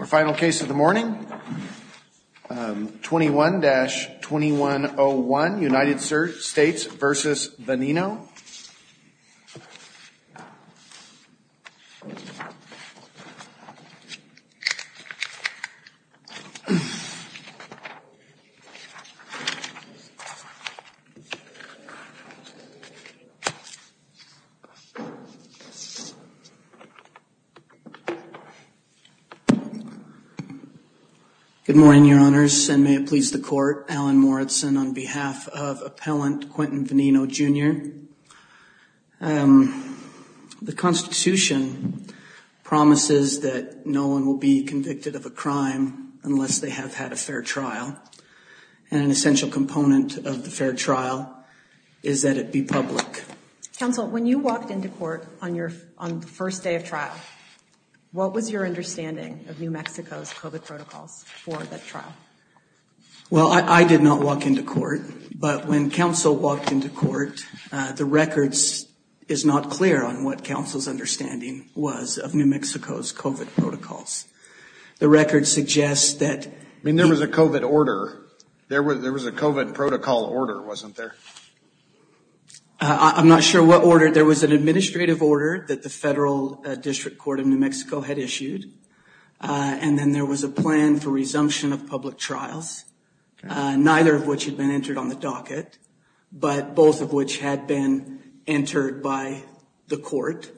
Our final case of the morning, 21-2101, United States v. Veneno. Good morning, Your Honors, and may it please the Court, Alan Morritson on behalf of Appellant Quentin Veneno, Jr. The Constitution promises that no one will be convicted of a crime unless they have had a fair trial, and an essential component of the fair trial is that it be public. Counsel, when you walked into court on the first day of trial, what was your understanding of New Mexico's COVID protocols for that trial? Well, I did not walk into court, but when counsel walked into court, the record is not clear on what counsel's understanding was of New Mexico's COVID protocols. The record suggests that... I mean, there was a COVID order. There was a COVID protocol order, wasn't there? I'm not sure what order. There was an administrative order that the Federal District Court of New Mexico had issued, and then there was a plan for resumption of public trials, neither of which had been entered on the docket, but both of which had been entered by the court,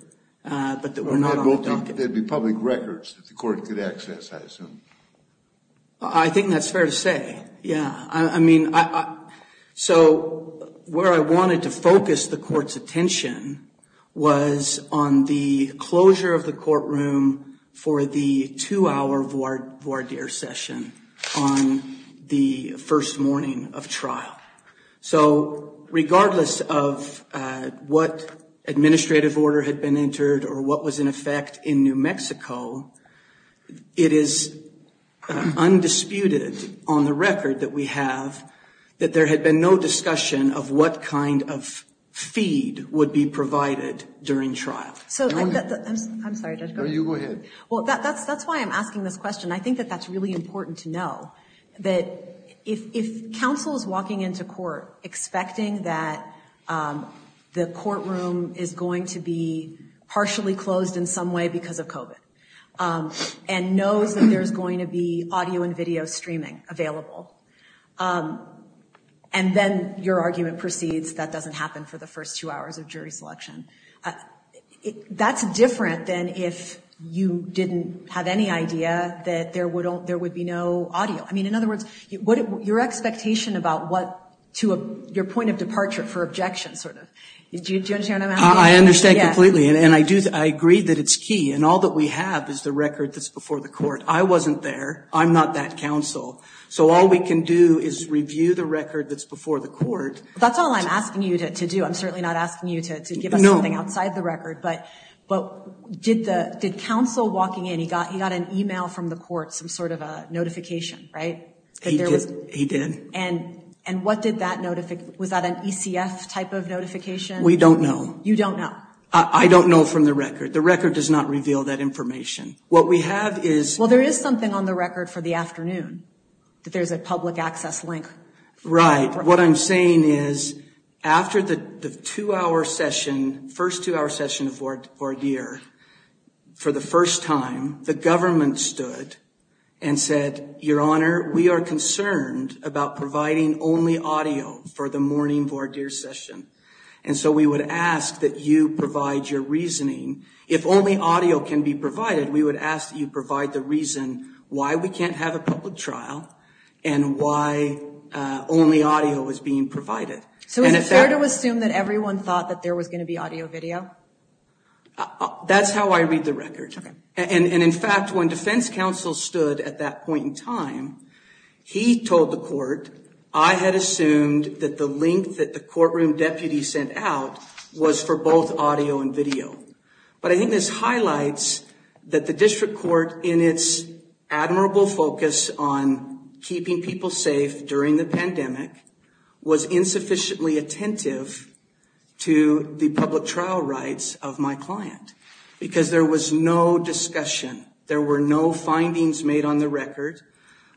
but that were not on the docket. There'd be public records that the court could access, I assume. I think that's fair to say, yeah. I mean, so where I wanted to focus the court's attention was on the closure of the courtroom for the two-hour voir dire session on the first morning of trial. So regardless of what administrative order had been entered or what was in effect in New Mexico, it is undisputed on the record that we have that there had been no discussion of what kind of feed would be provided during trial. I'm sorry. No, you go ahead. Well, that's why I'm asking this question. I think that that's really important to know that if counsel is walking into court expecting that the courtroom is going to be partially closed in some way because of COVID and knows that there's going to be audio and video streaming available, and then your argument proceeds that doesn't happen for the first two hours of jury selection, that's different than if you didn't have any idea that there would be no audio. I mean, in other words, your expectation about what to your point of departure for objection sort of, do you understand what I'm asking? I understand completely, and I agree that it's key, and all that we have is the record that's before the court. I wasn't there. I'm not that counsel. So all we can do is review the record that's before the court. That's all I'm asking you to do. I'm certainly not asking you to give us something outside the record. But did counsel walking in, he got an email from the court, some sort of a notification, right? He did. And what did that notify? Was that an ECF type of notification? We don't know. You don't know? I don't know from the record. The record does not reveal that information. What we have is – Well, there is something on the record for the afternoon that there's a public access link. Right. What I'm saying is, after the two-hour session, first two-hour session of voir dire, for the first time, the government stood and said, Your Honor, we are concerned about providing only audio for the morning voir dire session. And so we would ask that you provide your reasoning. If only audio can be provided, we would ask that you provide the reason why we can't have a public trial and why only audio is being provided. So is it fair to assume that everyone thought that there was going to be audio-video? That's how I read the record. And in fact, when defense counsel stood at that point in time, he told the court, I had assumed that the link that the courtroom deputy sent out was for both audio and video. But I think this highlights that the district court, in its admirable focus on keeping people safe during the pandemic, was insufficiently attentive to the public trial rights of my client because there was no discussion. There were no findings made on the record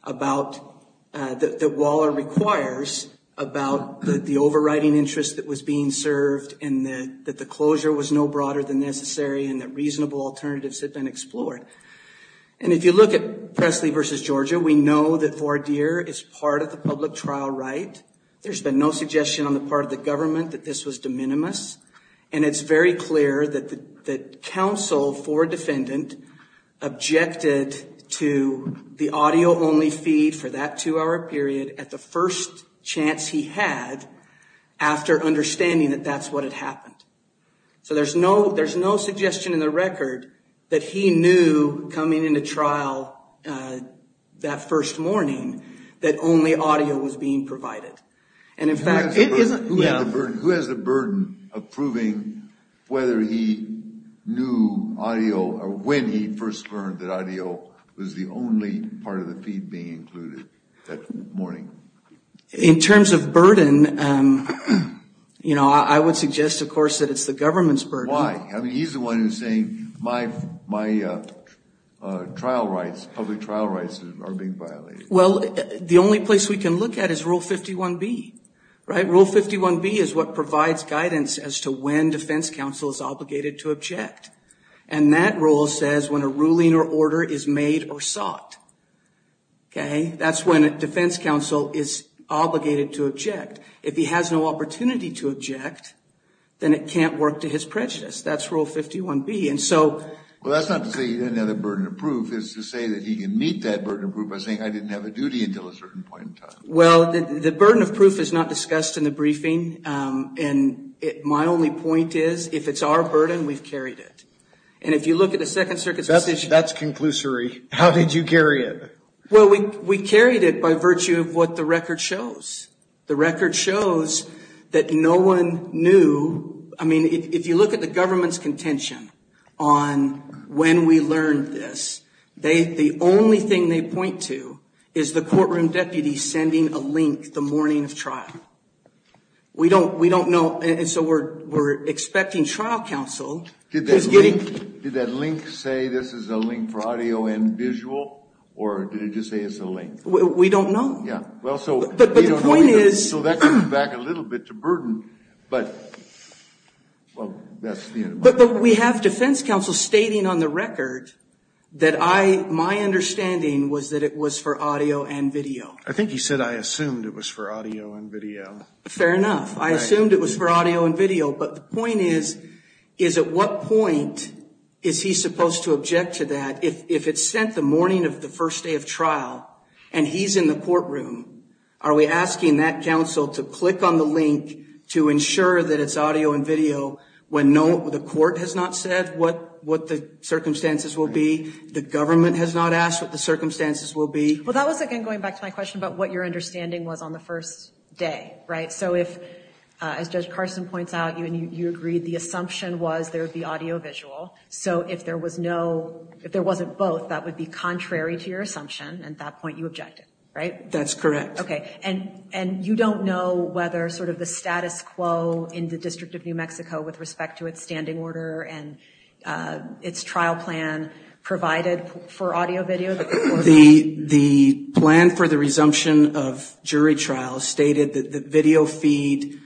that Waller requires about the overriding interest that was being served and that the closure was no broader than necessary and that reasonable alternatives had been explored. And if you look at Pressley v. Georgia, we know that voir dire is part of the public trial right. There's been no suggestion on the part of the government that this was de minimis. And it's very clear that counsel for defendant objected to the audio-only feed for that two-hour period at the first chance he had after understanding that that's what had happened. So there's no suggestion in the record that he knew coming into trial that first morning that only audio was being provided. Who has the burden of proving whether he knew audio or when he first learned that audio was the only part of the feed being included that morning? In terms of burden, you know, I would suggest, of course, that it's the government's burden. Why? I mean, he's the one who's saying my trial rights, public trial rights are being violated. Well, the only place we can look at is Rule 51B. Rule 51B is what provides guidance as to when defense counsel is obligated to object. And that rule says when a ruling or order is made or sought. That's when a defense counsel is obligated to object. If he has no opportunity to object, then it can't work to his prejudice. That's Rule 51B. Well, that's not to say he doesn't have the burden of proof. It's to say that he can meet that burden of proof by saying, I didn't have a duty until a certain point in time. Well, the burden of proof is not discussed in the briefing. And my only point is, if it's our burden, we've carried it. And if you look at the Second Circuit's decision. That's conclusory. How did you carry it? Well, we carried it by virtue of what the record shows. The record shows that no one knew. I mean, if you look at the government's contention on when we learned this. The only thing they point to is the courtroom deputy sending a link the morning of trial. We don't know. And so we're expecting trial counsel. Did that link say this is a link for audio and visual? Or did it just say it's a link? We don't know. Yeah. But the point is. So that comes back a little bit to burden. But we have defense counsel stating on the record that my understanding was that it was for audio and video. I think he said I assumed it was for audio and video. Fair enough. I assumed it was for audio and video. But the point is, is at what point is he supposed to object to that if it's sent the morning of the first day of trial. And he's in the courtroom. Are we asking that counsel to click on the link to ensure that it's audio and video when the court has not said what the circumstances will be? The government has not asked what the circumstances will be? Well, that was, again, going back to my question about what your understanding was on the first day. Right? So if, as Judge Carson points out, you agreed the assumption was there would be audio visual. So if there was no, if there wasn't both, that would be contrary to your assumption. At that point you objected, right? That's correct. Okay. And you don't know whether sort of the status quo in the District of New Mexico with respect to its standing order and its trial plan provided for audio, video? The plan for the resumption of jury trials stated that the video feed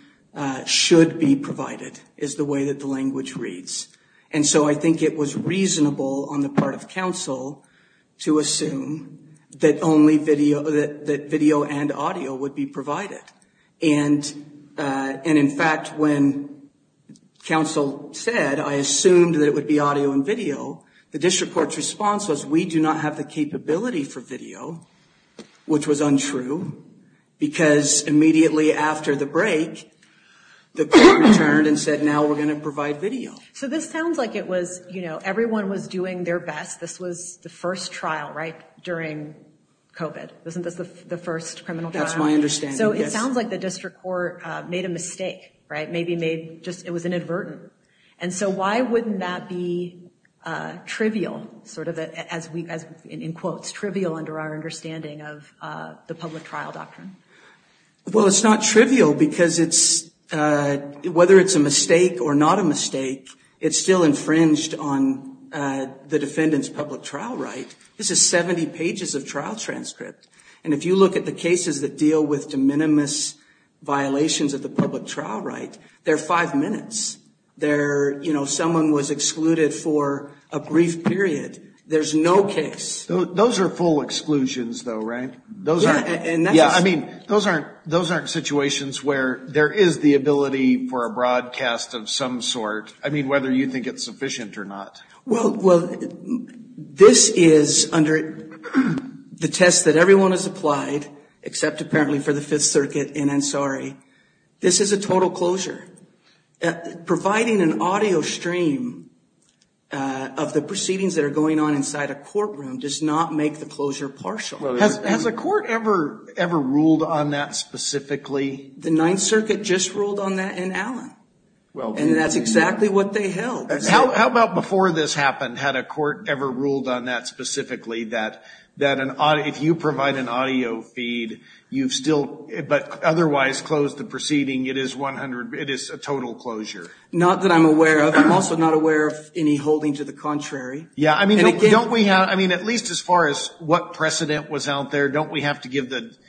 should be provided is the way that the language reads. And so I think it was reasonable on the part of counsel to assume that only video, that video and audio would be provided. And in fact, when counsel said I assumed that it would be audio and video, the district court's response was we do not have the capability for video, which was untrue. Because immediately after the break, the court returned and said now we're going to provide video. So this sounds like it was, you know, everyone was doing their best. This was the first trial, right? During COVID. Isn't this the first criminal trial? That's my understanding. So it sounds like the district court made a mistake, right? Maybe made just, it was inadvertent. And so why wouldn't that be trivial, sort of as we, as in quotes, trivial under our understanding of the public trial doctrine? Well, it's not trivial because it's, whether it's a mistake or not a mistake, it's still infringed on the defendant's public trial right. This is 70 pages of trial transcript. And if you look at the cases that deal with de minimis violations of the public trial right, they're five minutes. They're, you know, someone was excluded for a brief period. There's no case. Those are full exclusions, though, right? Yeah, I mean, those aren't situations where there is the ability for a broadcast of some sort. I mean, whether you think it's sufficient or not. Well, this is under the test that everyone has applied, except apparently for the Fifth Circuit and Ansari. This is a total closure. Providing an audio stream of the proceedings that are going on inside a courtroom does not make the closure partial. Has a court ever ruled on that specifically? The Ninth Circuit just ruled on that in Allen. And that's exactly what they held. How about before this happened? Had a court ever ruled on that specifically, that if you provide an audio feed, but otherwise close the proceeding, it is a total closure? Not that I'm aware of. I'm also not aware of any holding to the contrary. Yeah, I mean, at least as far as what precedent was out there, don't we have to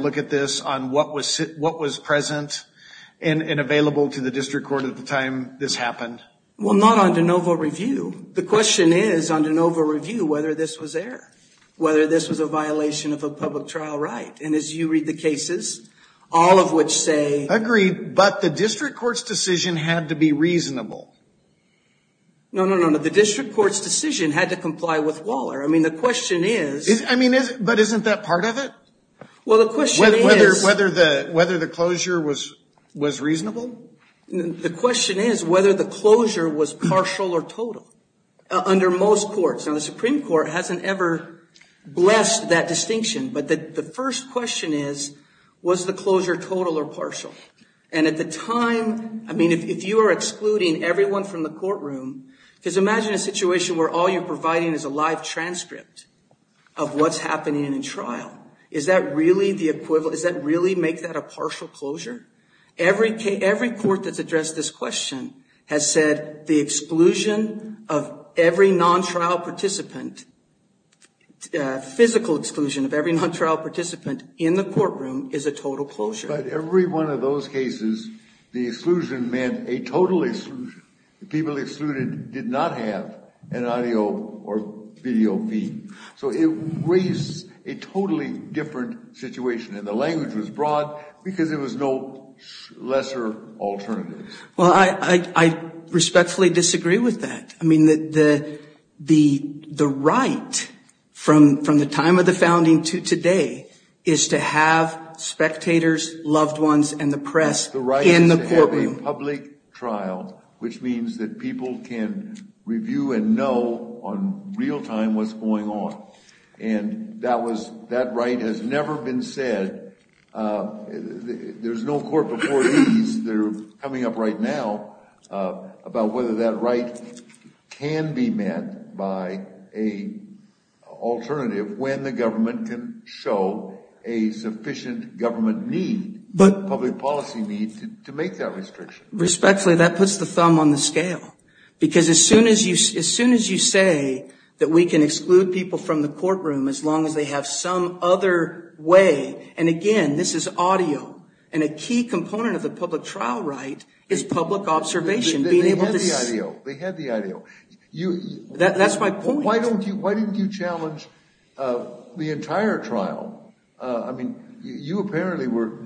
look at this on what was present and available to the district court at the time this happened? Well, not on de novo review. The question is on de novo review whether this was error, whether this was a violation of a public trial right. And as you read the cases, all of which say... Agreed, but the district court's decision had to be reasonable. No, no, no. The district court's decision had to comply with Waller. I mean, the question is... I mean, but isn't that part of it? Well, the question is... Whether the closure was reasonable? The question is whether the closure was partial or total under most courts. Now, the Supreme Court hasn't ever blessed that distinction. But the first question is, was the closure total or partial? And at the time, I mean, if you are excluding everyone from the courtroom... Because imagine a situation where all you're providing is a live transcript of what's happening in a trial. Is that really the equivalent? Does that really make that a partial closure? Every court that's addressed this question has said the exclusion of every non-trial participant, physical exclusion of every non-trial participant in the courtroom is a total closure. But every one of those cases, the exclusion meant a total exclusion. People excluded did not have an audio or video feed. So it raised a totally different situation. And the language was broad because there was no lesser alternative. Well, I respectfully disagree with that. I mean, the right from the time of the founding to today is to have spectators, loved ones, and the press in the courtroom. The right to have a public trial, which means that people can review and know on real time what's going on. And that right has never been said. There's no court before these that are coming up right now about whether that right can be met by a alternative when the government can show a sufficient government need, public policy need to make that restriction. Respectfully, that puts the thumb on the scale. Because as soon as you say that we can exclude people from the courtroom as long as they have some other way, and again, this is audio. And a key component of the public trial right is public observation. They had the audio. They had the audio. That's my point. Why didn't you challenge the entire trial? I mean, you apparently were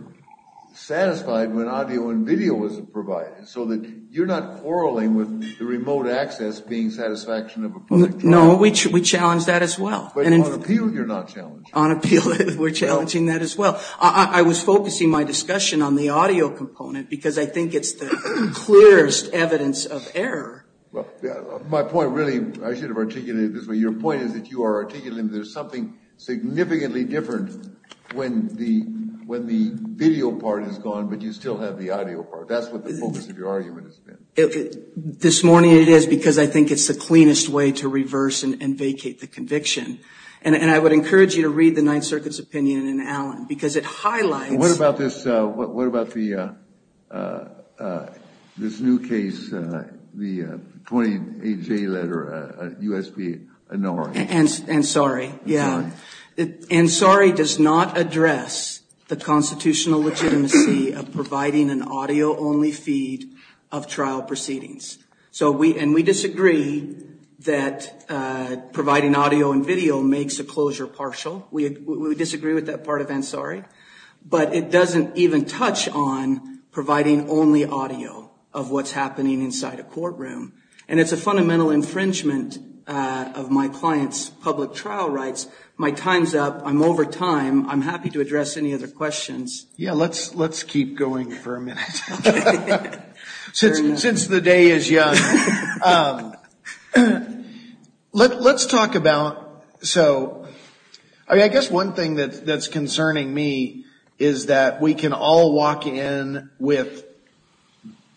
satisfied when audio and video was provided so that you're not quarreling with the remote access being satisfaction of a public trial. No, we challenged that as well. But on appeal, you're not challenging. On appeal, we're challenging that as well. I was focusing my discussion on the audio component because I think it's the clearest evidence of error. My point really, I should have articulated it this way. Your point is that you are articulating that there's something significantly different when the video part is gone but you still have the audio part. That's what the focus of your argument has been. This morning it is because I think it's the cleanest way to reverse and vacate the conviction. And I would encourage you to read the Ninth Circuit's opinion in Allen because it highlights. What about this? What about this new case, the 28-J letter, U.S.P. Annori? Ansari, yeah. Ansari does not address the constitutional legitimacy of providing an audio-only feed of trial proceedings. And we disagree that providing audio and video makes a closure partial. We disagree with that part of Ansari. But it doesn't even touch on providing only audio of what's happening inside a courtroom. And it's a fundamental infringement of my client's public trial rights. My time's up. I'm over time. I'm happy to address any other questions. Yeah, let's keep going for a minute since the day is young. Let's talk about, so, I guess one thing that's concerning me is that we can all walk in with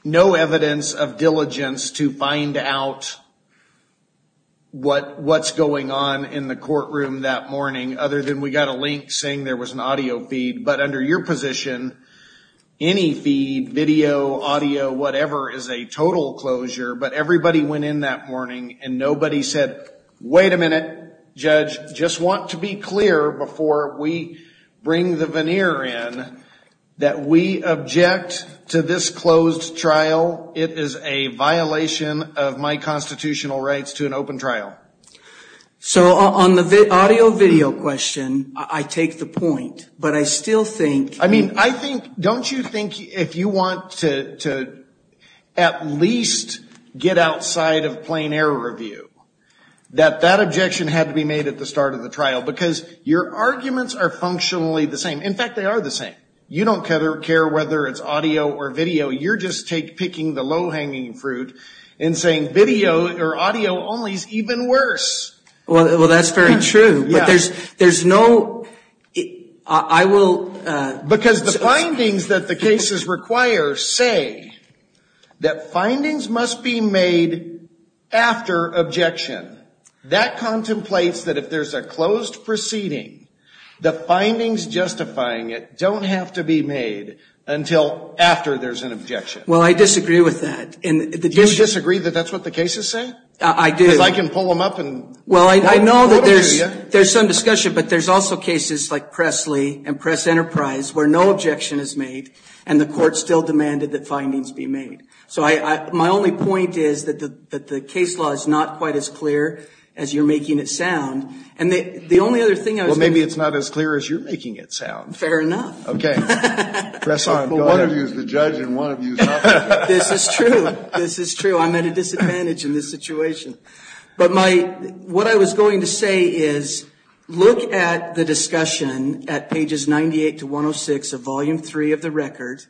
no evidence of diligence to find out what's going on in the courtroom that morning, other than we got a link saying there was an audio feed. But under your position, any feed, video, audio, whatever, is a total closure. But everybody went in that morning and nobody said, wait a minute, judge, just want to be clear before we bring the veneer in that we object to this closed trial. It is a violation of my constitutional rights to an open trial. So on the audio, video question, I take the point. But I still think. I mean, I think, don't you think if you want to at least get outside of plain error review, that that objection had to be made at the start of the trial? Because your arguments are functionally the same. In fact, they are the same. You don't care whether it's audio or video. You're just picking the low-hanging fruit and saying video or audio only is even worse. Well, that's very true. But there's no. I will. Because the findings that the cases require say that findings must be made after objection. That contemplates that if there's a closed proceeding, the findings justifying it don't have to be made until after there's an objection. Well, I disagree with that. Do you disagree that that's what the cases say? I do. Because I can pull them up and. Well, I know that there's some discussion. But there's also cases like Presley and Press Enterprise where no objection is made and the court still demanded that findings be made. So my only point is that the case law is not quite as clear as you're making it sound. And the only other thing I was going to. Well, maybe it's not as clear as you're making it sound. Fair enough. Okay. Press on. One of you is the judge and one of you is not the judge. This is true. This is true. I'm at a disadvantage in this situation. But what I was going to say is look at the discussion at pages 98 to 106 of Volume 3 of the record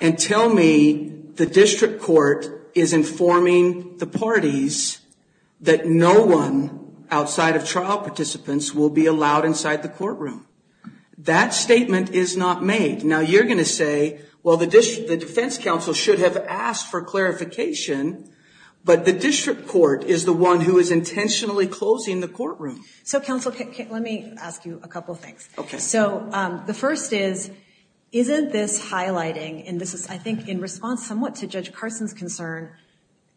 and tell me the district court is informing the parties that no one outside of trial participants will be allowed inside the courtroom. That statement is not made. Now, you're going to say, well, the defense counsel should have asked for clarification, but the district court is the one who is intentionally closing the courtroom. So, counsel, let me ask you a couple of things. Okay. So the first is, isn't this highlighting, and this is I think in response somewhat to Judge Carson's concern,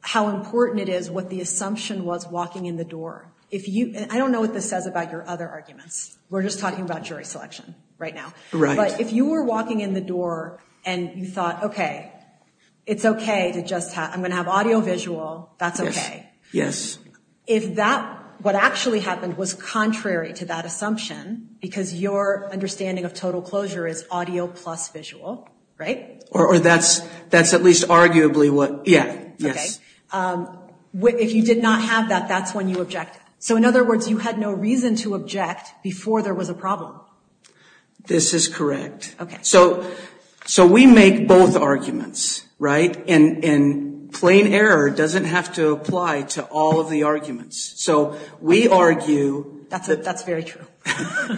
how important it is what the assumption was walking in the door. I don't know what this says about your other arguments. We're just talking about jury selection right now. Right. But if you were walking in the door and you thought, okay, it's okay to just have, I'm going to have audio-visual, that's okay. Yes. If that, what actually happened was contrary to that assumption, because your understanding of total closure is audio plus visual, right? Or that's at least arguably what, yeah, yes. Okay. If you did not have that, that's when you object. So, in other words, you had no reason to object before there was a problem. This is correct. Okay. So we make both arguments, right? And plain error doesn't have to apply to all of the arguments. So we argue. That's very true.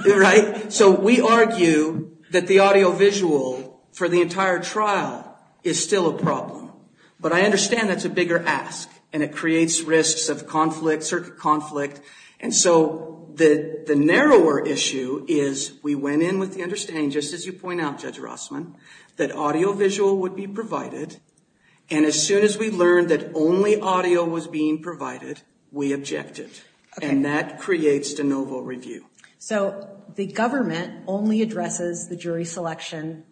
Right? So we argue that the audio-visual for the entire trial is still a problem. But I understand that's a bigger ask. And it creates risks of conflict, circuit conflict. And so the narrower issue is we went in with the understanding, just as you point out, Judge Rossman, that audio-visual would be provided. And as soon as we learned that only audio was being provided, we objected. Okay. And that creates de novo review. So the government only addresses the jury selection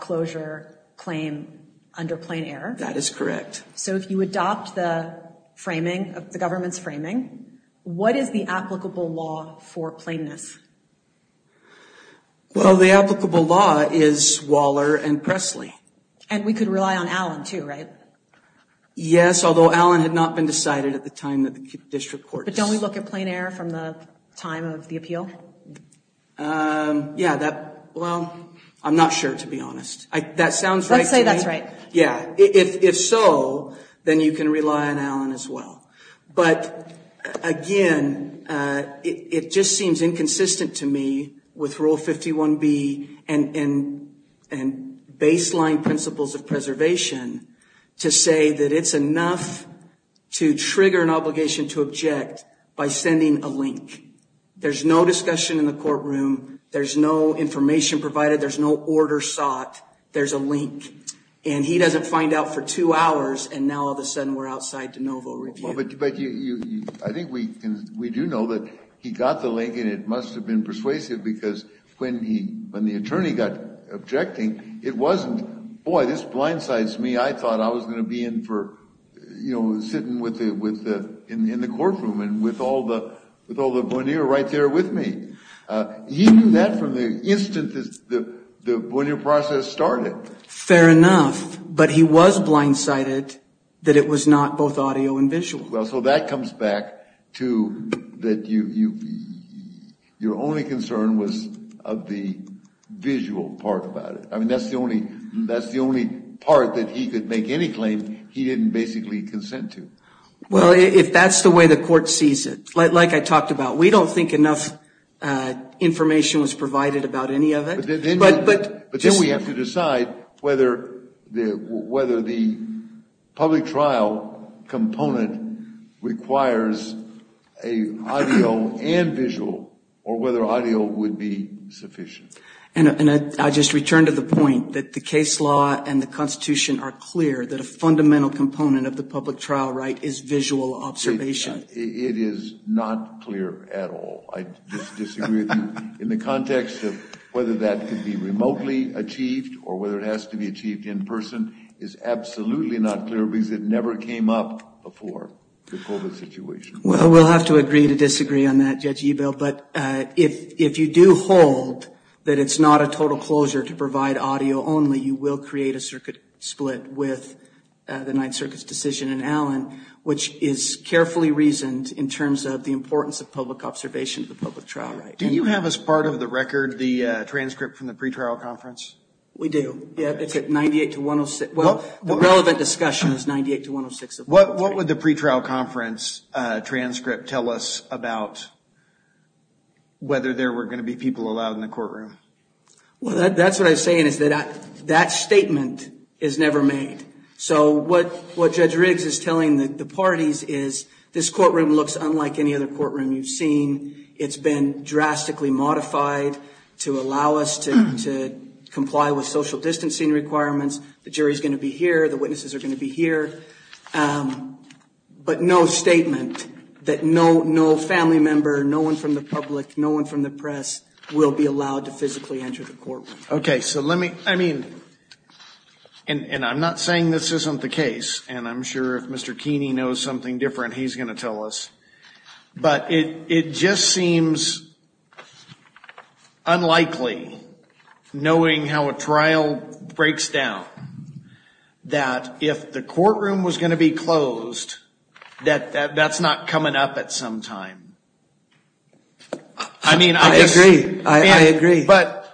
closure claim under plain error. That is correct. So if you adopt the framing, the government's framing, what is the applicable law for plainness? Well, the applicable law is Waller and Presley. And we could rely on Allen, too, right? Yes, although Allen had not been decided at the time that the district courts. But don't we look at plain error from the time of the appeal? Yeah, that, well, I'm not sure, to be honest. That sounds right to me. Let's say that's right. Yeah, if so, then you can rely on Allen as well. But, again, it just seems inconsistent to me with Rule 51B and baseline principles of preservation to say that it's enough to trigger an obligation to object by sending a link. There's no discussion in the courtroom. There's no information provided. There's no order sought. There's a link. And he doesn't find out for two hours, and now all of a sudden we're outside de novo review. But I think we do know that he got the link, and it must have been persuasive because when the attorney got objecting, it wasn't, boy, this blindsides me. I thought I was going to be in for, you know, sitting in the courtroom and with all the bonier right there with me. He knew that from the instant the bonier process started. Fair enough, but he was blindsided that it was not both audio and visual. Well, so that comes back to that your only concern was of the visual part about it. I mean, that's the only part that he could make any claim he didn't basically consent to. Well, if that's the way the court sees it, like I talked about, we don't think enough information was provided about any of it. But then we have to decide whether the public trial component requires an audio and visual or whether audio would be sufficient. And I just return to the point that the case law and the Constitution are clear that a fundamental component of the public trial right is visual observation. It is not clear at all. I disagree with you in the context of whether that could be remotely achieved or whether it has to be achieved in person is absolutely not clear because it never came up before the COVID situation. Well, we'll have to agree to disagree on that, Judge Ebel. But if you do hold that it's not a total closure to provide audio only, you will create a circuit split with the Ninth Circuit's decision in Allen, which is carefully reasoned in terms of the importance of public observation of the public trial right. Do you have as part of the record the transcript from the pretrial conference? We do. It's at 98 to 106. Well, the relevant discussion is 98 to 106. What would the pretrial conference transcript tell us about whether there were going to be people allowed in the courtroom? Well, that's what I'm saying is that that statement is never made. So what Judge Riggs is telling the parties is this courtroom looks unlike any other courtroom you've seen. It's been drastically modified to allow us to comply with social distancing requirements. The jury is going to be here. The witnesses are going to be here. But no statement that no family member, no one from the public, no one from the press will be allowed to physically enter the courtroom. OK, so let me I mean, and I'm not saying this isn't the case, and I'm sure if Mr. Keeney knows something different, he's going to tell us. But it just seems unlikely, knowing how a trial breaks down, that if the courtroom was going to be closed, that that's not coming up at some time. I mean, I agree. I agree. But,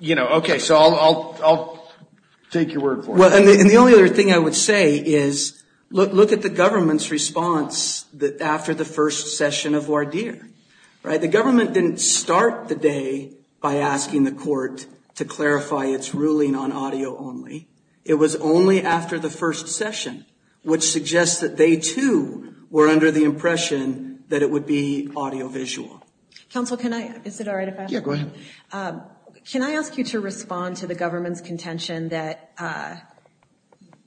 you know, OK, so I'll take your word for it. And the only other thing I would say is look at the government's response that after the first session of voir dire. The government didn't start the day by asking the court to clarify its ruling on audio only. It was only after the first session, which suggests that they, too, were under the impression that it would be audio visual. Counsel, can I. Is it all right if I go ahead? Can I ask you to respond to the government's contention that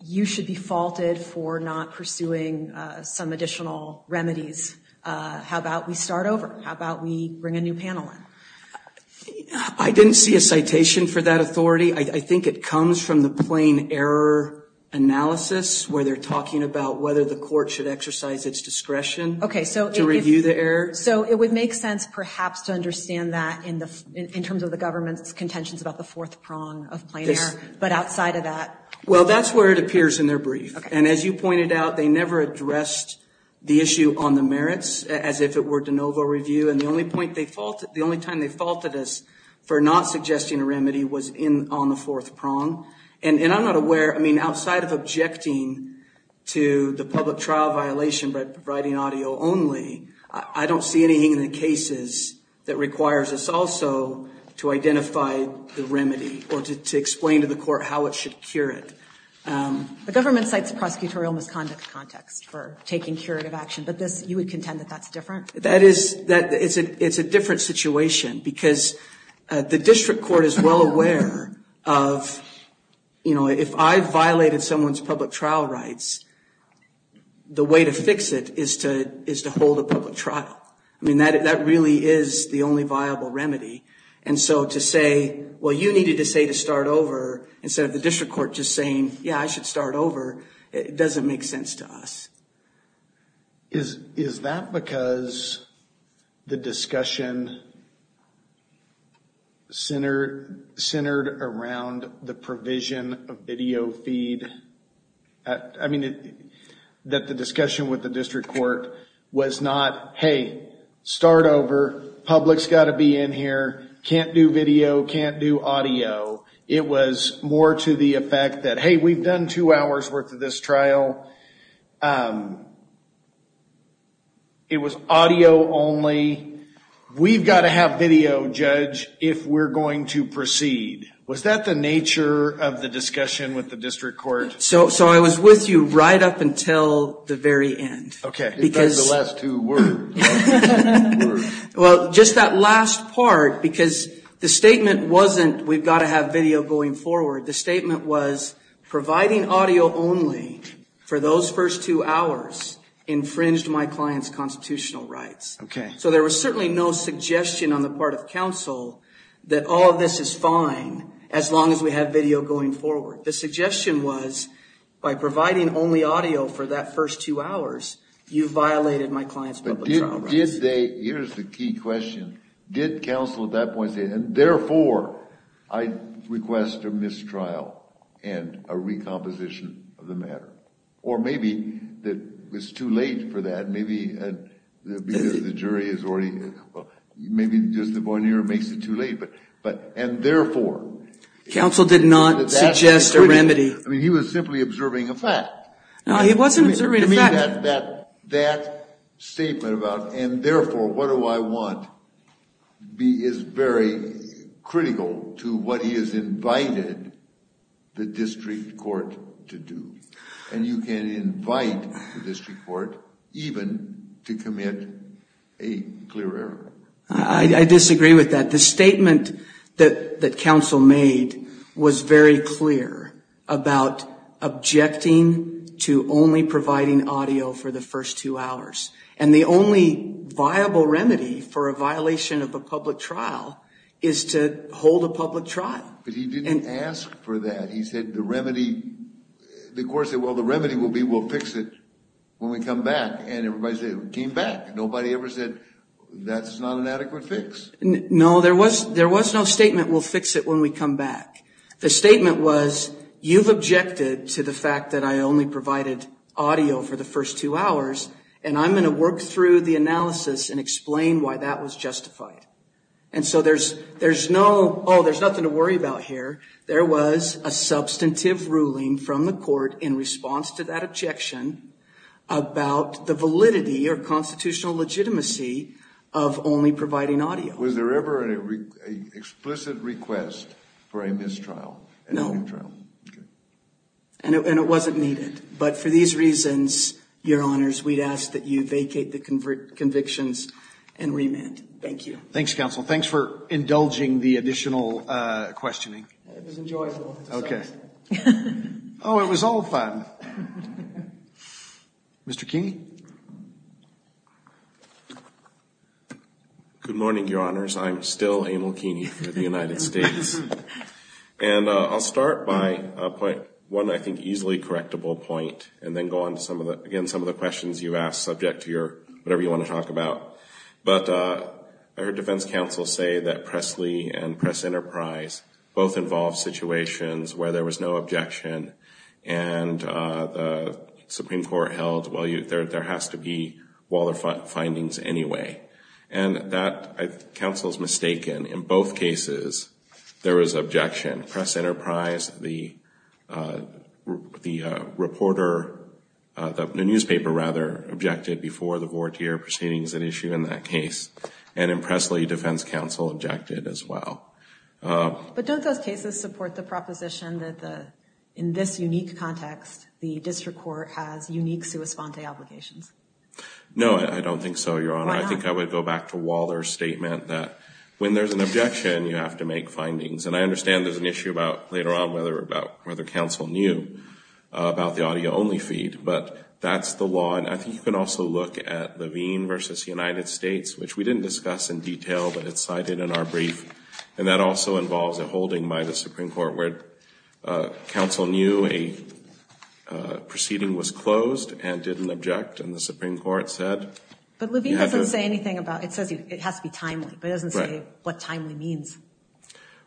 you should be faulted for not pursuing some additional remedies? How about we start over? How about we bring a new panel? I didn't see a citation for that authority. I think it comes from the plain error analysis where they're talking about whether the court should exercise its discretion. OK, so to review the error. So it would make sense perhaps to understand that in terms of the government's contentions about the fourth prong of plain error. But outside of that. Well, that's where it appears in their brief. And as you pointed out, they never addressed the issue on the merits as if it were de novo review. And the only point they fault, the only time they faulted us for not suggesting a remedy was in on the fourth prong. And I'm not aware. I mean, outside of objecting to the public trial violation by writing audio only, I don't see anything in the cases that requires us also to identify the remedy or to explain to the court how it should cure it. The government cites a prosecutorial misconduct context for taking curative action. But this you would contend that that's different. That is that it's a it's a different situation because the district court is well aware of, you know, if I violated someone's public trial rights, the way to fix it is to is to hold a public trial. I mean, that that really is the only viable remedy. And so to say, well, you needed to say to start over. Instead of the district court just saying, yeah, I should start over. It doesn't make sense to us. Is is that because the discussion centered centered around the provision of video feed? I mean, that the discussion with the district court was not, hey, start over. Public's got to be in here. Can't do video. Can't do audio. It was more to the effect that, hey, we've done two hours worth of this trial. It was audio only. We've got to have video, judge, if we're going to proceed. Was that the nature of the discussion with the district court? So so I was with you right up until the very end. OK, because the last two were. Well, just that last part, because the statement wasn't we've got to have video going forward. The statement was providing audio only for those first two hours infringed my client's constitutional rights. OK, so there was certainly no suggestion on the part of counsel that all of this is fine as long as we have video going forward. The suggestion was by providing only audio for that first two hours. You violated my client's. But did they? Here's the key question. Did counsel at that point say and therefore I request a mistrial and a recomposition of the matter? Or maybe that was too late for that. Maybe the jury is already. Well, maybe just the one year makes it too late. But but and therefore counsel did not suggest a remedy. I mean, he was simply observing a fact. It wasn't that that statement about. And therefore, what do I want? B is very critical to what he has invited the district court to do. And you can invite the district court even to commit a clear error. I disagree with that. The statement that that counsel made was very clear about objecting to only providing audio for the first two hours. And the only viable remedy for a violation of a public trial is to hold a public trial. But he didn't ask for that. He said the remedy. The court said, well, the remedy will be we'll fix it when we come back. And everybody came back. Nobody ever said that's not an adequate fix. No, there was there was no statement. We'll fix it when we come back. The statement was you've objected to the fact that I only provided audio for the first two hours. And I'm going to work through the analysis and explain why that was justified. And so there's there's no oh, there's nothing to worry about here. There was a substantive ruling from the court in response to that objection about the validity or constitutional legitimacy of only providing audio. Was there ever an explicit request for a mistrial? No. And it wasn't needed. But for these reasons, your honors, we'd ask that you vacate the convictions and remand. Thank you. Thanks, counsel. Thanks for indulging the additional questioning. It was enjoyable. OK. Oh, it was all fun. Mr. Keeney. Good morning, your honors. I'm still Emil Keeney for the United States. And I'll start by one I think easily correctable point and then go on to some of the again some of the questions you asked subject to your whatever you want to talk about. But I heard defense counsel say that Pressley and Press Enterprise both involved situations where there was no objection. And the Supreme Court held, well, there has to be Waller findings anyway. And that counsel's mistaken. In both cases, there was objection. In Press Enterprise, the reporter, the newspaper rather, objected before the vortier proceedings that issue in that case. And in Pressley, defense counsel objected as well. But don't those cases support the proposition that in this unique context, the district court has unique sua sponte obligations? No, I don't think so, your honor. I think I would go back to Waller's statement that when there's an objection, you have to make findings. And I understand there's an issue about later on whether counsel knew about the audio only feed. But that's the law. And I think you can also look at Levine v. United States, which we didn't discuss in detail, but it's cited in our brief. And that also involves a holding by the Supreme Court where counsel knew a proceeding was closed and didn't object. And the Supreme Court said you have to – But Levine doesn't say anything about – it says it has to be timely. But it doesn't say what timely means.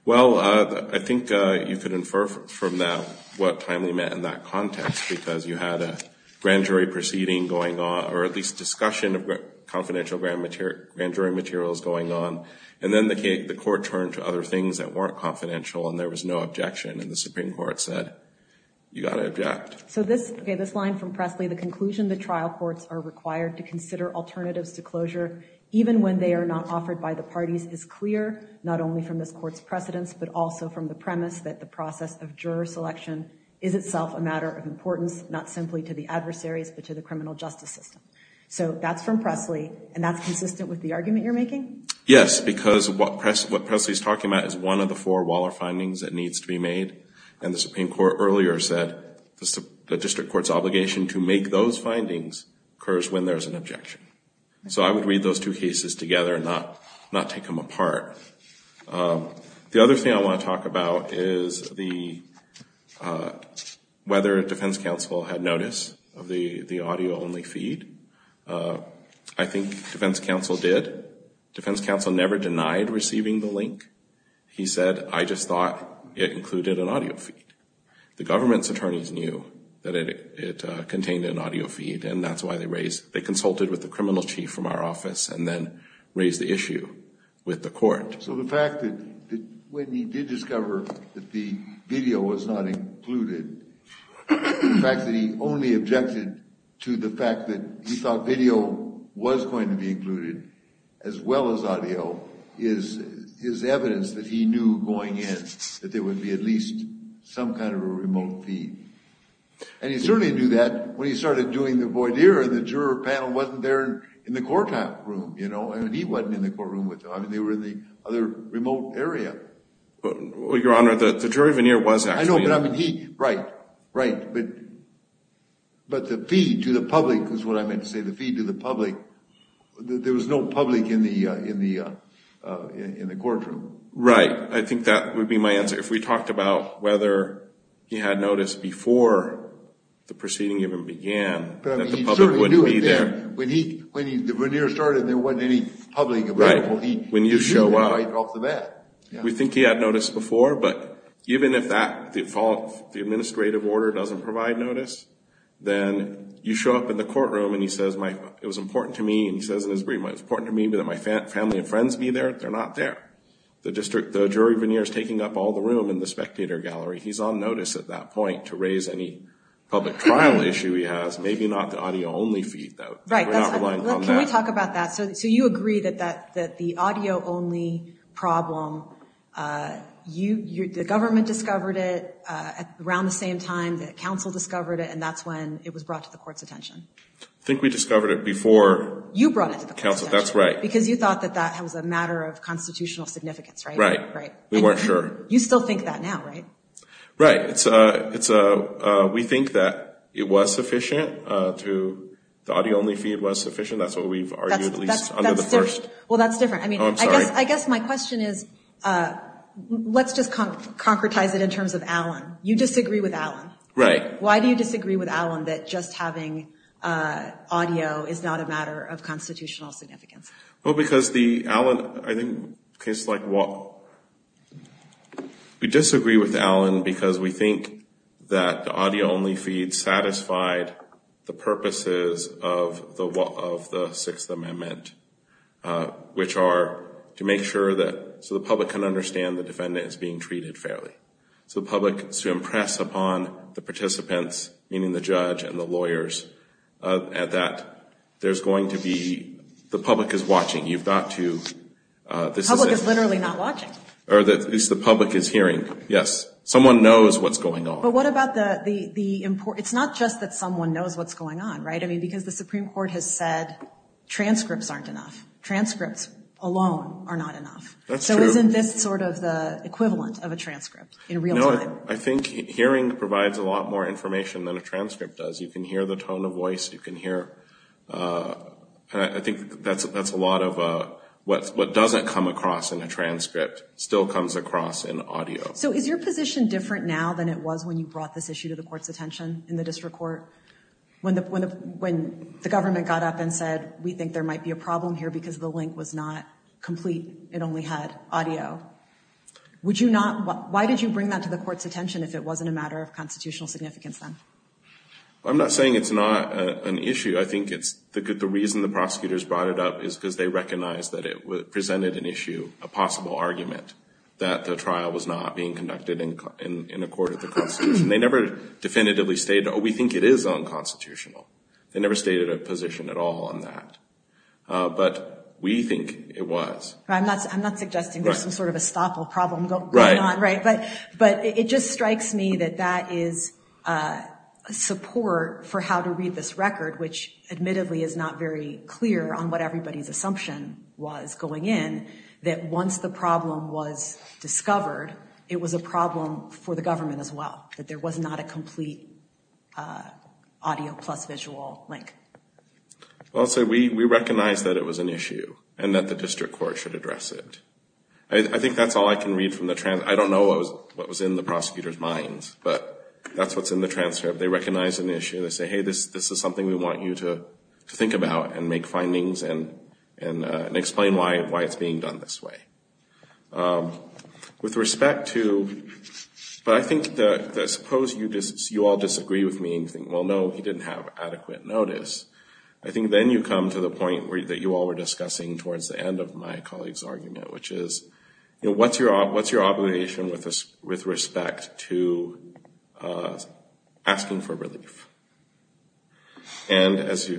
Well, I think you could infer from that what timely meant in that context because you had a grand jury proceeding going on, or at least discussion of confidential grand jury materials going on. And then the court turned to other things that weren't confidential and there was no objection. And the Supreme Court said you got to object. So this line from Pressley, the conclusion that trial courts are required to consider alternatives to closure, even when they are not offered by the parties, is clear, not only from this court's precedents, but also from the premise that the process of juror selection is itself a matter of importance, not simply to the adversaries but to the criminal justice system. So that's from Pressley, and that's consistent with the argument you're making? Yes, because what Pressley is talking about is one of the four Waller findings that needs to be made. And the Supreme Court earlier said the district court's obligation to make those findings occurs when there's an objection. So I would read those two cases together and not take them apart. The other thing I want to talk about is whether defense counsel had notice of the audio-only feed. I think defense counsel did. Defense counsel never denied receiving the link. He said, I just thought it included an audio feed. The government's attorneys knew that it contained an audio feed, and that's why they consulted with the criminal chief from our office and then raised the issue with the court. So the fact that when he did discover that the video was not included, the fact that he only objected to the fact that he thought video was going to be included as well as audio, is evidence that he knew going in that there would be at least some kind of a remote feed. And he certainly knew that when he started doing the voir dire and the juror panel wasn't there in the courtroom, you know. I mean, he wasn't in the courtroom with them. I mean, they were in the other remote area. Well, Your Honor, the jury veneer was actually. I know, but I mean, he, right, right. But the feed to the public is what I meant to say, the feed to the public. There was no public in the courtroom. Right. I think that would be my answer. If we talked about whether he had noticed before the proceeding even began that the public wouldn't be there. But I mean, he certainly knew it then. When the veneer started, there wasn't any public available. Right. When you show up. He knew right off the bat. We think he had noticed before, but even if the administrative order doesn't provide notice, then you show up in the courtroom and he says, it was important to me, and he says in his brief, it was important to me that my family and friends be there. They're not there. The jury veneer is taking up all the room in the spectator gallery. He's on notice at that point to raise any public trial issue he has. Maybe not the audio-only feed, though. Right. Can we talk about that? So you agree that the audio-only problem, the government discovered it around the same time that counsel discovered it, and that's when it was brought to the court's attention. I think we discovered it before. You brought it to the counsel. That's right. Because you thought that that was a matter of constitutional significance, right? Right. We weren't sure. You still think that now, right? Right. We think that it was sufficient, the audio-only feed was sufficient. That's what we've argued at least under the first. Well, that's different. I guess my question is, let's just concretize it in terms of Allen. You disagree with Allen. Right. Why do you disagree with Allen that just having audio is not a matter of constitutional significance? Well, because the Allen, I think, case like Watt, we disagree with Allen because we think that the audio-only feed satisfied the purposes of the Sixth Amendment, which are to make sure that so the public can understand the defendant is being treated fairly. So the public is to impress upon the participants, meaning the judge and the lawyers, that there's going to be, the public is watching. You've got to. The public is literally not watching. Or at least the public is hearing. Yes. Someone knows what's going on. But what about the, it's not just that someone knows what's going on, right? I mean, because the Supreme Court has said transcripts aren't enough. Transcripts alone are not enough. That's true. Isn't this sort of the equivalent of a transcript in real time? No, I think hearing provides a lot more information than a transcript does. You can hear the tone of voice. You can hear, I think that's a lot of what doesn't come across in a transcript still comes across in audio. So is your position different now than it was when you brought this issue to the court's attention in the district court? When the government got up and said, we think there might be a problem here because the link was not complete, it only had audio, would you not, why did you bring that to the court's attention if it wasn't a matter of constitutional significance then? I'm not saying it's not an issue. I think it's, the reason the prosecutors brought it up is because they recognized that it presented an issue, a possible argument, that the trial was not being conducted in accord with the Constitution. They never definitively stated, oh, we think it is unconstitutional. They never stated a position at all on that. But we think it was. I'm not suggesting there's some sort of estoppel problem going on, right? But it just strikes me that that is support for how to read this record, which admittedly is not very clear on what everybody's assumption was going in, that once the problem was discovered, it was a problem for the government as well, that there was not a complete audio plus visual link. Also, we recognize that it was an issue and that the district court should address it. I think that's all I can read from the transcript. I don't know what was in the prosecutor's minds, but that's what's in the transcript. They recognize an issue. They say, hey, this is something we want you to think about and make findings and explain why it's being done this way. With respect to – but I think that suppose you all disagree with me and you think, well, no, he didn't have adequate notice. I think then you come to the point that you all were discussing towards the end of my colleague's argument, which is what's your obligation with respect to asking for relief? And as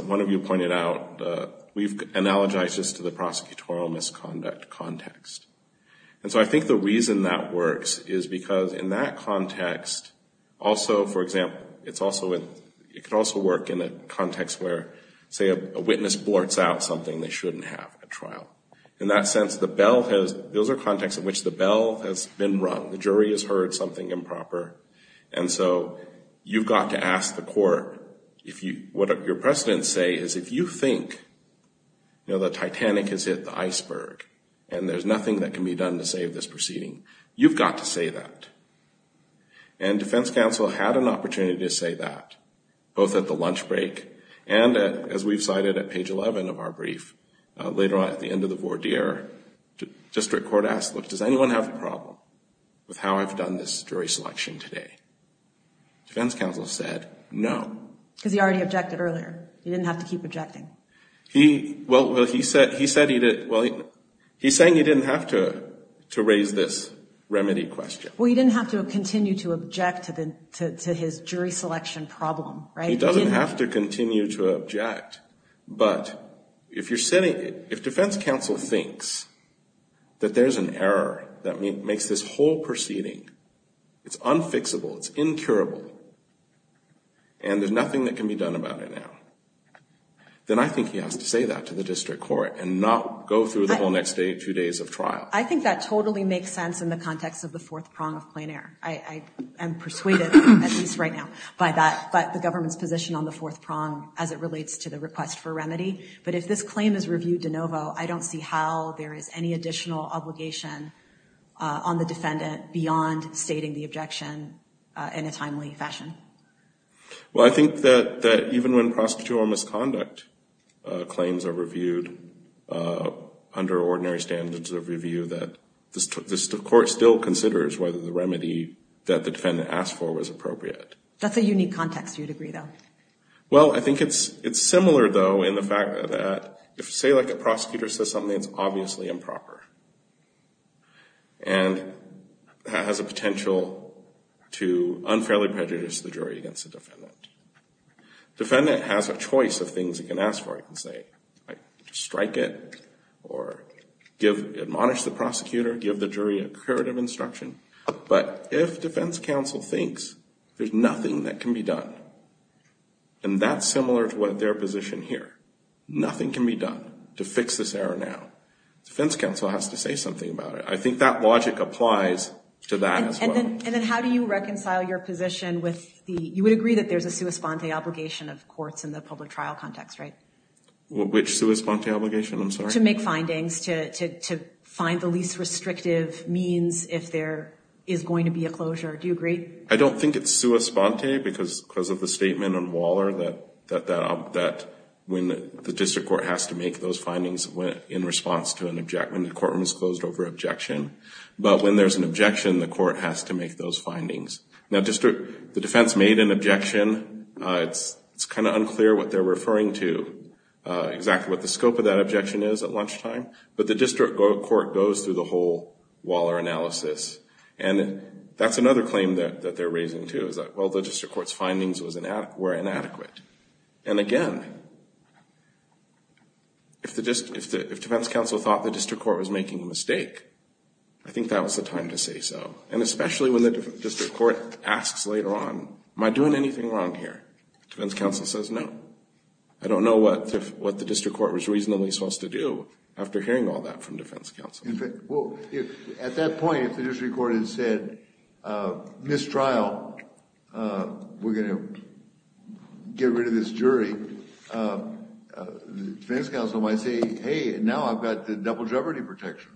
one of you pointed out, we've analogized this to the prosecutorial misconduct context. And so I think the reason that works is because in that context, also, for example, it can also work in a context where, say, a witness blorts out something they shouldn't have at trial. In that sense, the bell has – those are contexts in which the bell has been rung. The jury has heard something improper. And so you've got to ask the court if you – what your precedents say is if you think, you know, the Titanic has hit the iceberg and there's nothing that can be done to save this proceeding, you've got to say that. And defense counsel had an opportunity to say that, both at the lunch break and, as we've cited at page 11 of our brief, later on at the end of the voir dire, district court asked, look, does anyone have a problem with how I've done this jury selection today? Defense counsel said no. Because he already objected earlier. He didn't have to keep objecting. Well, he said he didn't – well, he's saying he didn't have to raise this remedy question. Well, he didn't have to continue to object to his jury selection problem, right? And he doesn't have to continue to object. But if you're saying – if defense counsel thinks that there's an error that makes this whole proceeding, it's unfixable, it's incurable, and there's nothing that can be done about it now, then I think he has to say that to the district court and not go through the whole next day, two days of trial. I think that totally makes sense in the context of the fourth prong of plain error. I am persuaded, at least right now, by that, by the government's position on the fourth prong as it relates to the request for remedy. But if this claim is reviewed de novo, I don't see how there is any additional obligation on the defendant beyond stating the objection in a timely fashion. Well, I think that even when prosecutorial misconduct claims are reviewed under ordinary standards of review, that the court still considers whether the remedy that the defendant asked for was appropriate. That's a unique context, you'd agree, though. Well, I think it's similar, though, in the fact that if, say, a prosecutor says something that's obviously improper and has a potential to unfairly prejudice the jury against the defendant, the defendant has a choice of things he can ask for. I can say strike it or admonish the prosecutor, give the jury a curative instruction. But if defense counsel thinks there's nothing that can be done, and that's similar to their position here, nothing can be done to fix this error now, defense counsel has to say something about it. I think that logic applies to that as well. And then how do you reconcile your position with the, you would agree that there's a sua sponte obligation of courts in the public trial context, right? Which sua sponte obligation, I'm sorry? To make findings, to find the least restrictive means if there is going to be a closure. Do you agree? I don't think it's sua sponte because of the statement on Waller that when the district court has to make those findings in response to an objection, the courtroom is closed over objection. But when there's an objection, the court has to make those findings. Now, the defense made an objection. It's kind of unclear what they're referring to, exactly what the scope of that objection is at lunchtime. But the district court goes through the whole Waller analysis. And that's another claim that they're raising too, is that, well, the district court's findings were inadequate. And again, if defense counsel thought the district court was making a mistake, I think that was the time to say so. And especially when the district court asks later on, am I doing anything wrong here? Defense counsel says no. I don't know what the district court was reasonably supposed to do after hearing all that from defense counsel. At that point, if the district court had said, mistrial, we're going to get rid of this jury, defense counsel might say, hey, now I've got the double jeopardy protection.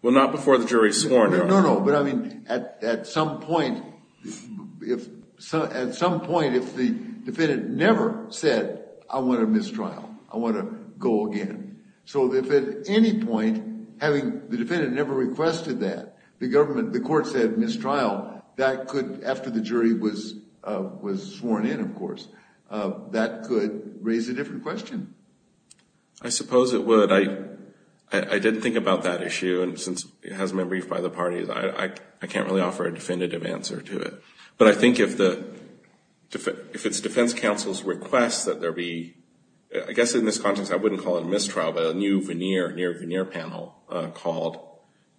Well, not before the jury is sworn in. No, no. But I mean, at some point, if the defendant never said, I want to mistrial, I want to go again. So if at any point, having the defendant never requested that, the court said mistrial, that could, after the jury was sworn in, of course, that could raise a different question. I suppose it would. I didn't think about that issue, and since it hasn't been briefed by the parties, I can't really offer a definitive answer to it. But I think if it's defense counsel's request that there be, I guess in this context, I wouldn't call it a mistrial, but a new veneer panel called,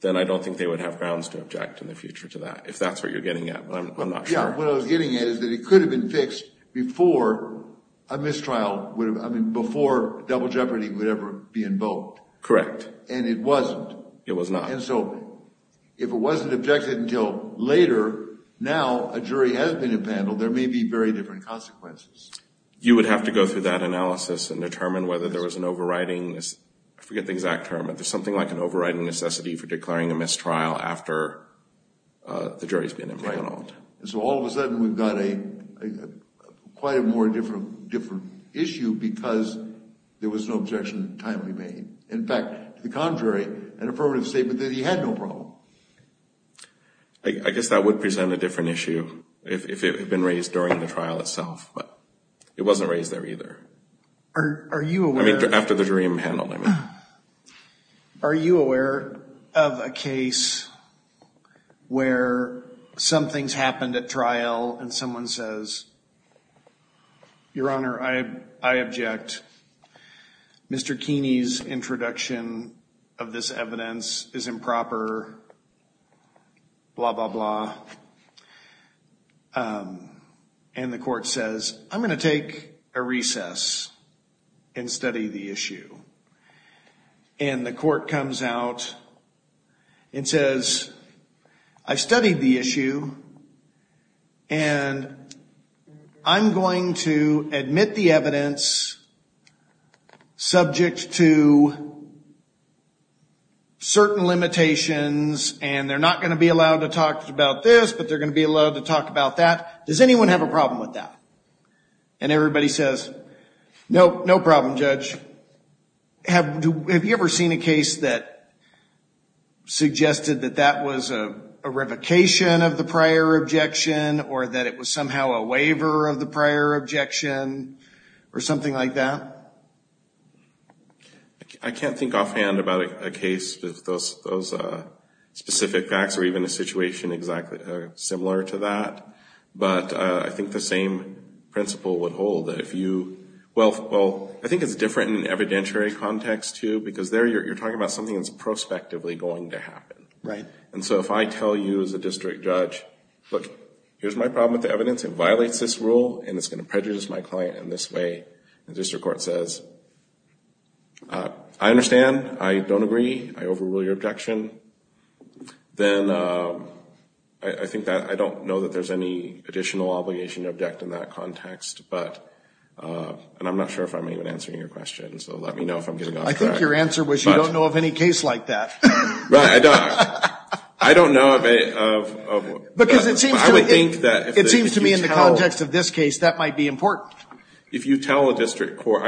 then I don't think they would have grounds to object in the future to that, if that's what you're getting at, but I'm not sure. Yeah, what I was getting at is that it could have been fixed before a mistrial, I mean, before double jeopardy would ever be invoked. Correct. And it wasn't. It was not. And so if it wasn't objected until later, now a jury has been impaneled, there may be very different consequences. You would have to go through that analysis and determine whether there was an overriding, I forget the exact term, but there's something like an overriding necessity for declaring a mistrial after the jury's been impaneled. And so all of a sudden we've got quite a more different issue because there was no objection timely made. In fact, to the contrary, an affirmative statement that he had no problem. I guess that would present a different issue if it had been raised during the trial itself, but it wasn't raised there either. I mean, after the jury impaneled, I mean. Are you aware of a case where something's happened at trial and someone says, Your Honor, I object. Mr. Keeney's introduction of this evidence is improper, blah, blah, blah. And the court says, I'm going to take a recess and study the issue. And the court comes out and says, I've studied the issue, and I'm going to admit the evidence subject to certain limitations, and they're not going to be allowed to talk about this, but they're going to be allowed to talk about that. Does anyone have a problem with that? And everybody says, no, no problem, Judge. Have you ever seen a case that suggested that that was a revocation of the prior objection or that it was somehow a waiver of the prior objection or something like that? I can't think offhand about a case with those specific facts or even a situation similar to that. But I think the same principle would hold. Well, I think it's different in an evidentiary context, too, because there you're talking about something that's prospectively going to happen. Right. And so if I tell you as a district judge, Look, here's my problem with the evidence. It violates this rule, and it's going to prejudice my client in this way. And the district court says, I understand. I don't agree. I overrule your objection. Then I think that I don't know that there's any additional obligation to object in that context, and I'm not sure if I'm even answering your question, so let me know if I'm getting off track. I think your answer was you don't know of any case like that. Right. I don't know of any. Because it seems to me in the context of this case, that might be important. If you tell a district court,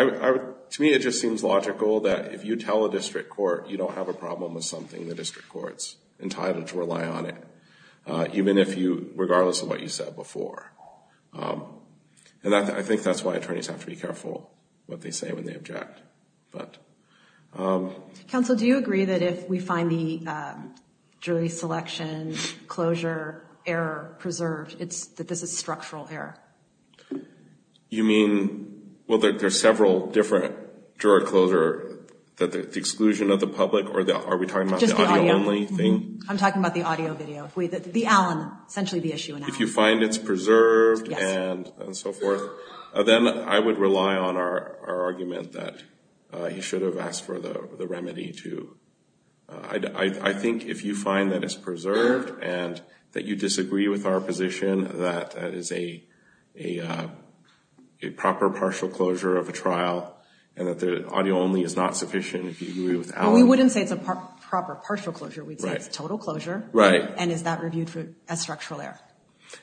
to me it just seems logical that if you tell a district court you don't have a problem with something, the district court's entitled to rely on it, even if you, regardless of what you said before. And I think that's why attorneys have to be careful what they say when they object. Counsel, do you agree that if we find the jury selection closure error preserved, that this is structural error? You mean, well, there's several different jury closure, the exclusion of the public, or are we talking about the audio only thing? I'm talking about the audio video. The Allen, essentially the issue in Allen. If you find it's preserved and so forth, then I would rely on our argument that he should have asked for the remedy to. I think if you find that it's preserved and that you disagree with our position, that is a proper partial closure of a trial and that the audio only is not sufficient, if you agree with Allen. Well, we wouldn't say it's a proper partial closure. We'd say it's a total closure. Right. And is that reviewed as structural error?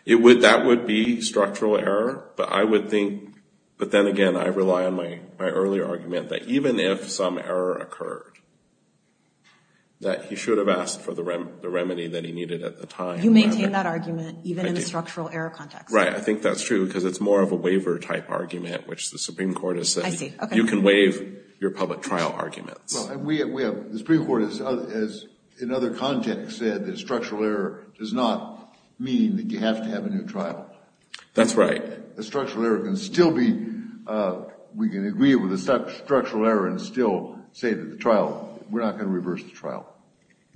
That would be structural error, but I would think, but then again, I rely on my earlier argument that even if some error occurred, that he should have asked for the remedy that he needed at the time. You maintain that argument even in the structural error context? Right. I think that's true because it's more of a waiver type argument, which the Supreme Court has said. I see. Okay. You can waive your public trial arguments. The Supreme Court has, in other contexts, said that structural error does not mean that you have to have a new trial. That's right. We can agree with the structural error and still say to the trial, we're not going to reverse the trial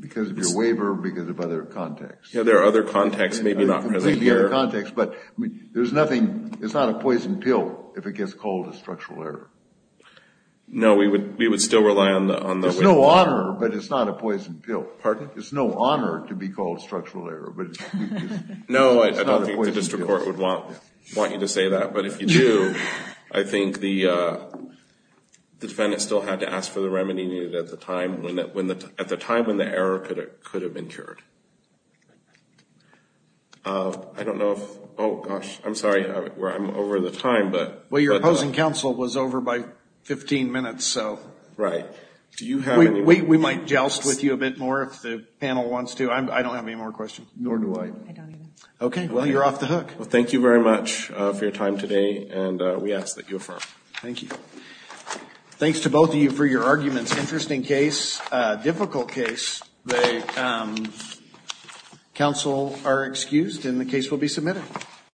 because of your waiver or because of other contexts. Yeah, there are other contexts, maybe not present here. But there's nothing, it's not a poison pill if it gets called a structural error. No, we would still rely on the waiver. It's no honor, but it's not a poison pill. Pardon? No, I don't think the district court would want you to say that. But if you do, I think the defendant still had to ask for the remedy needed at the time when the error could have been cured. I don't know if, oh gosh, I'm sorry, I'm over the time. Well, your opposing counsel was over by 15 minutes. Right. We might joust with you a bit more if the panel wants to. I don't have any more questions. Nor do I. I don't either. Okay. Well, you're off the hook. Well, thank you very much for your time today, and we ask that you affirm. Thank you. Thanks to both of you for your arguments. Interesting case, difficult case. The counsel are excused and the case will be submitted.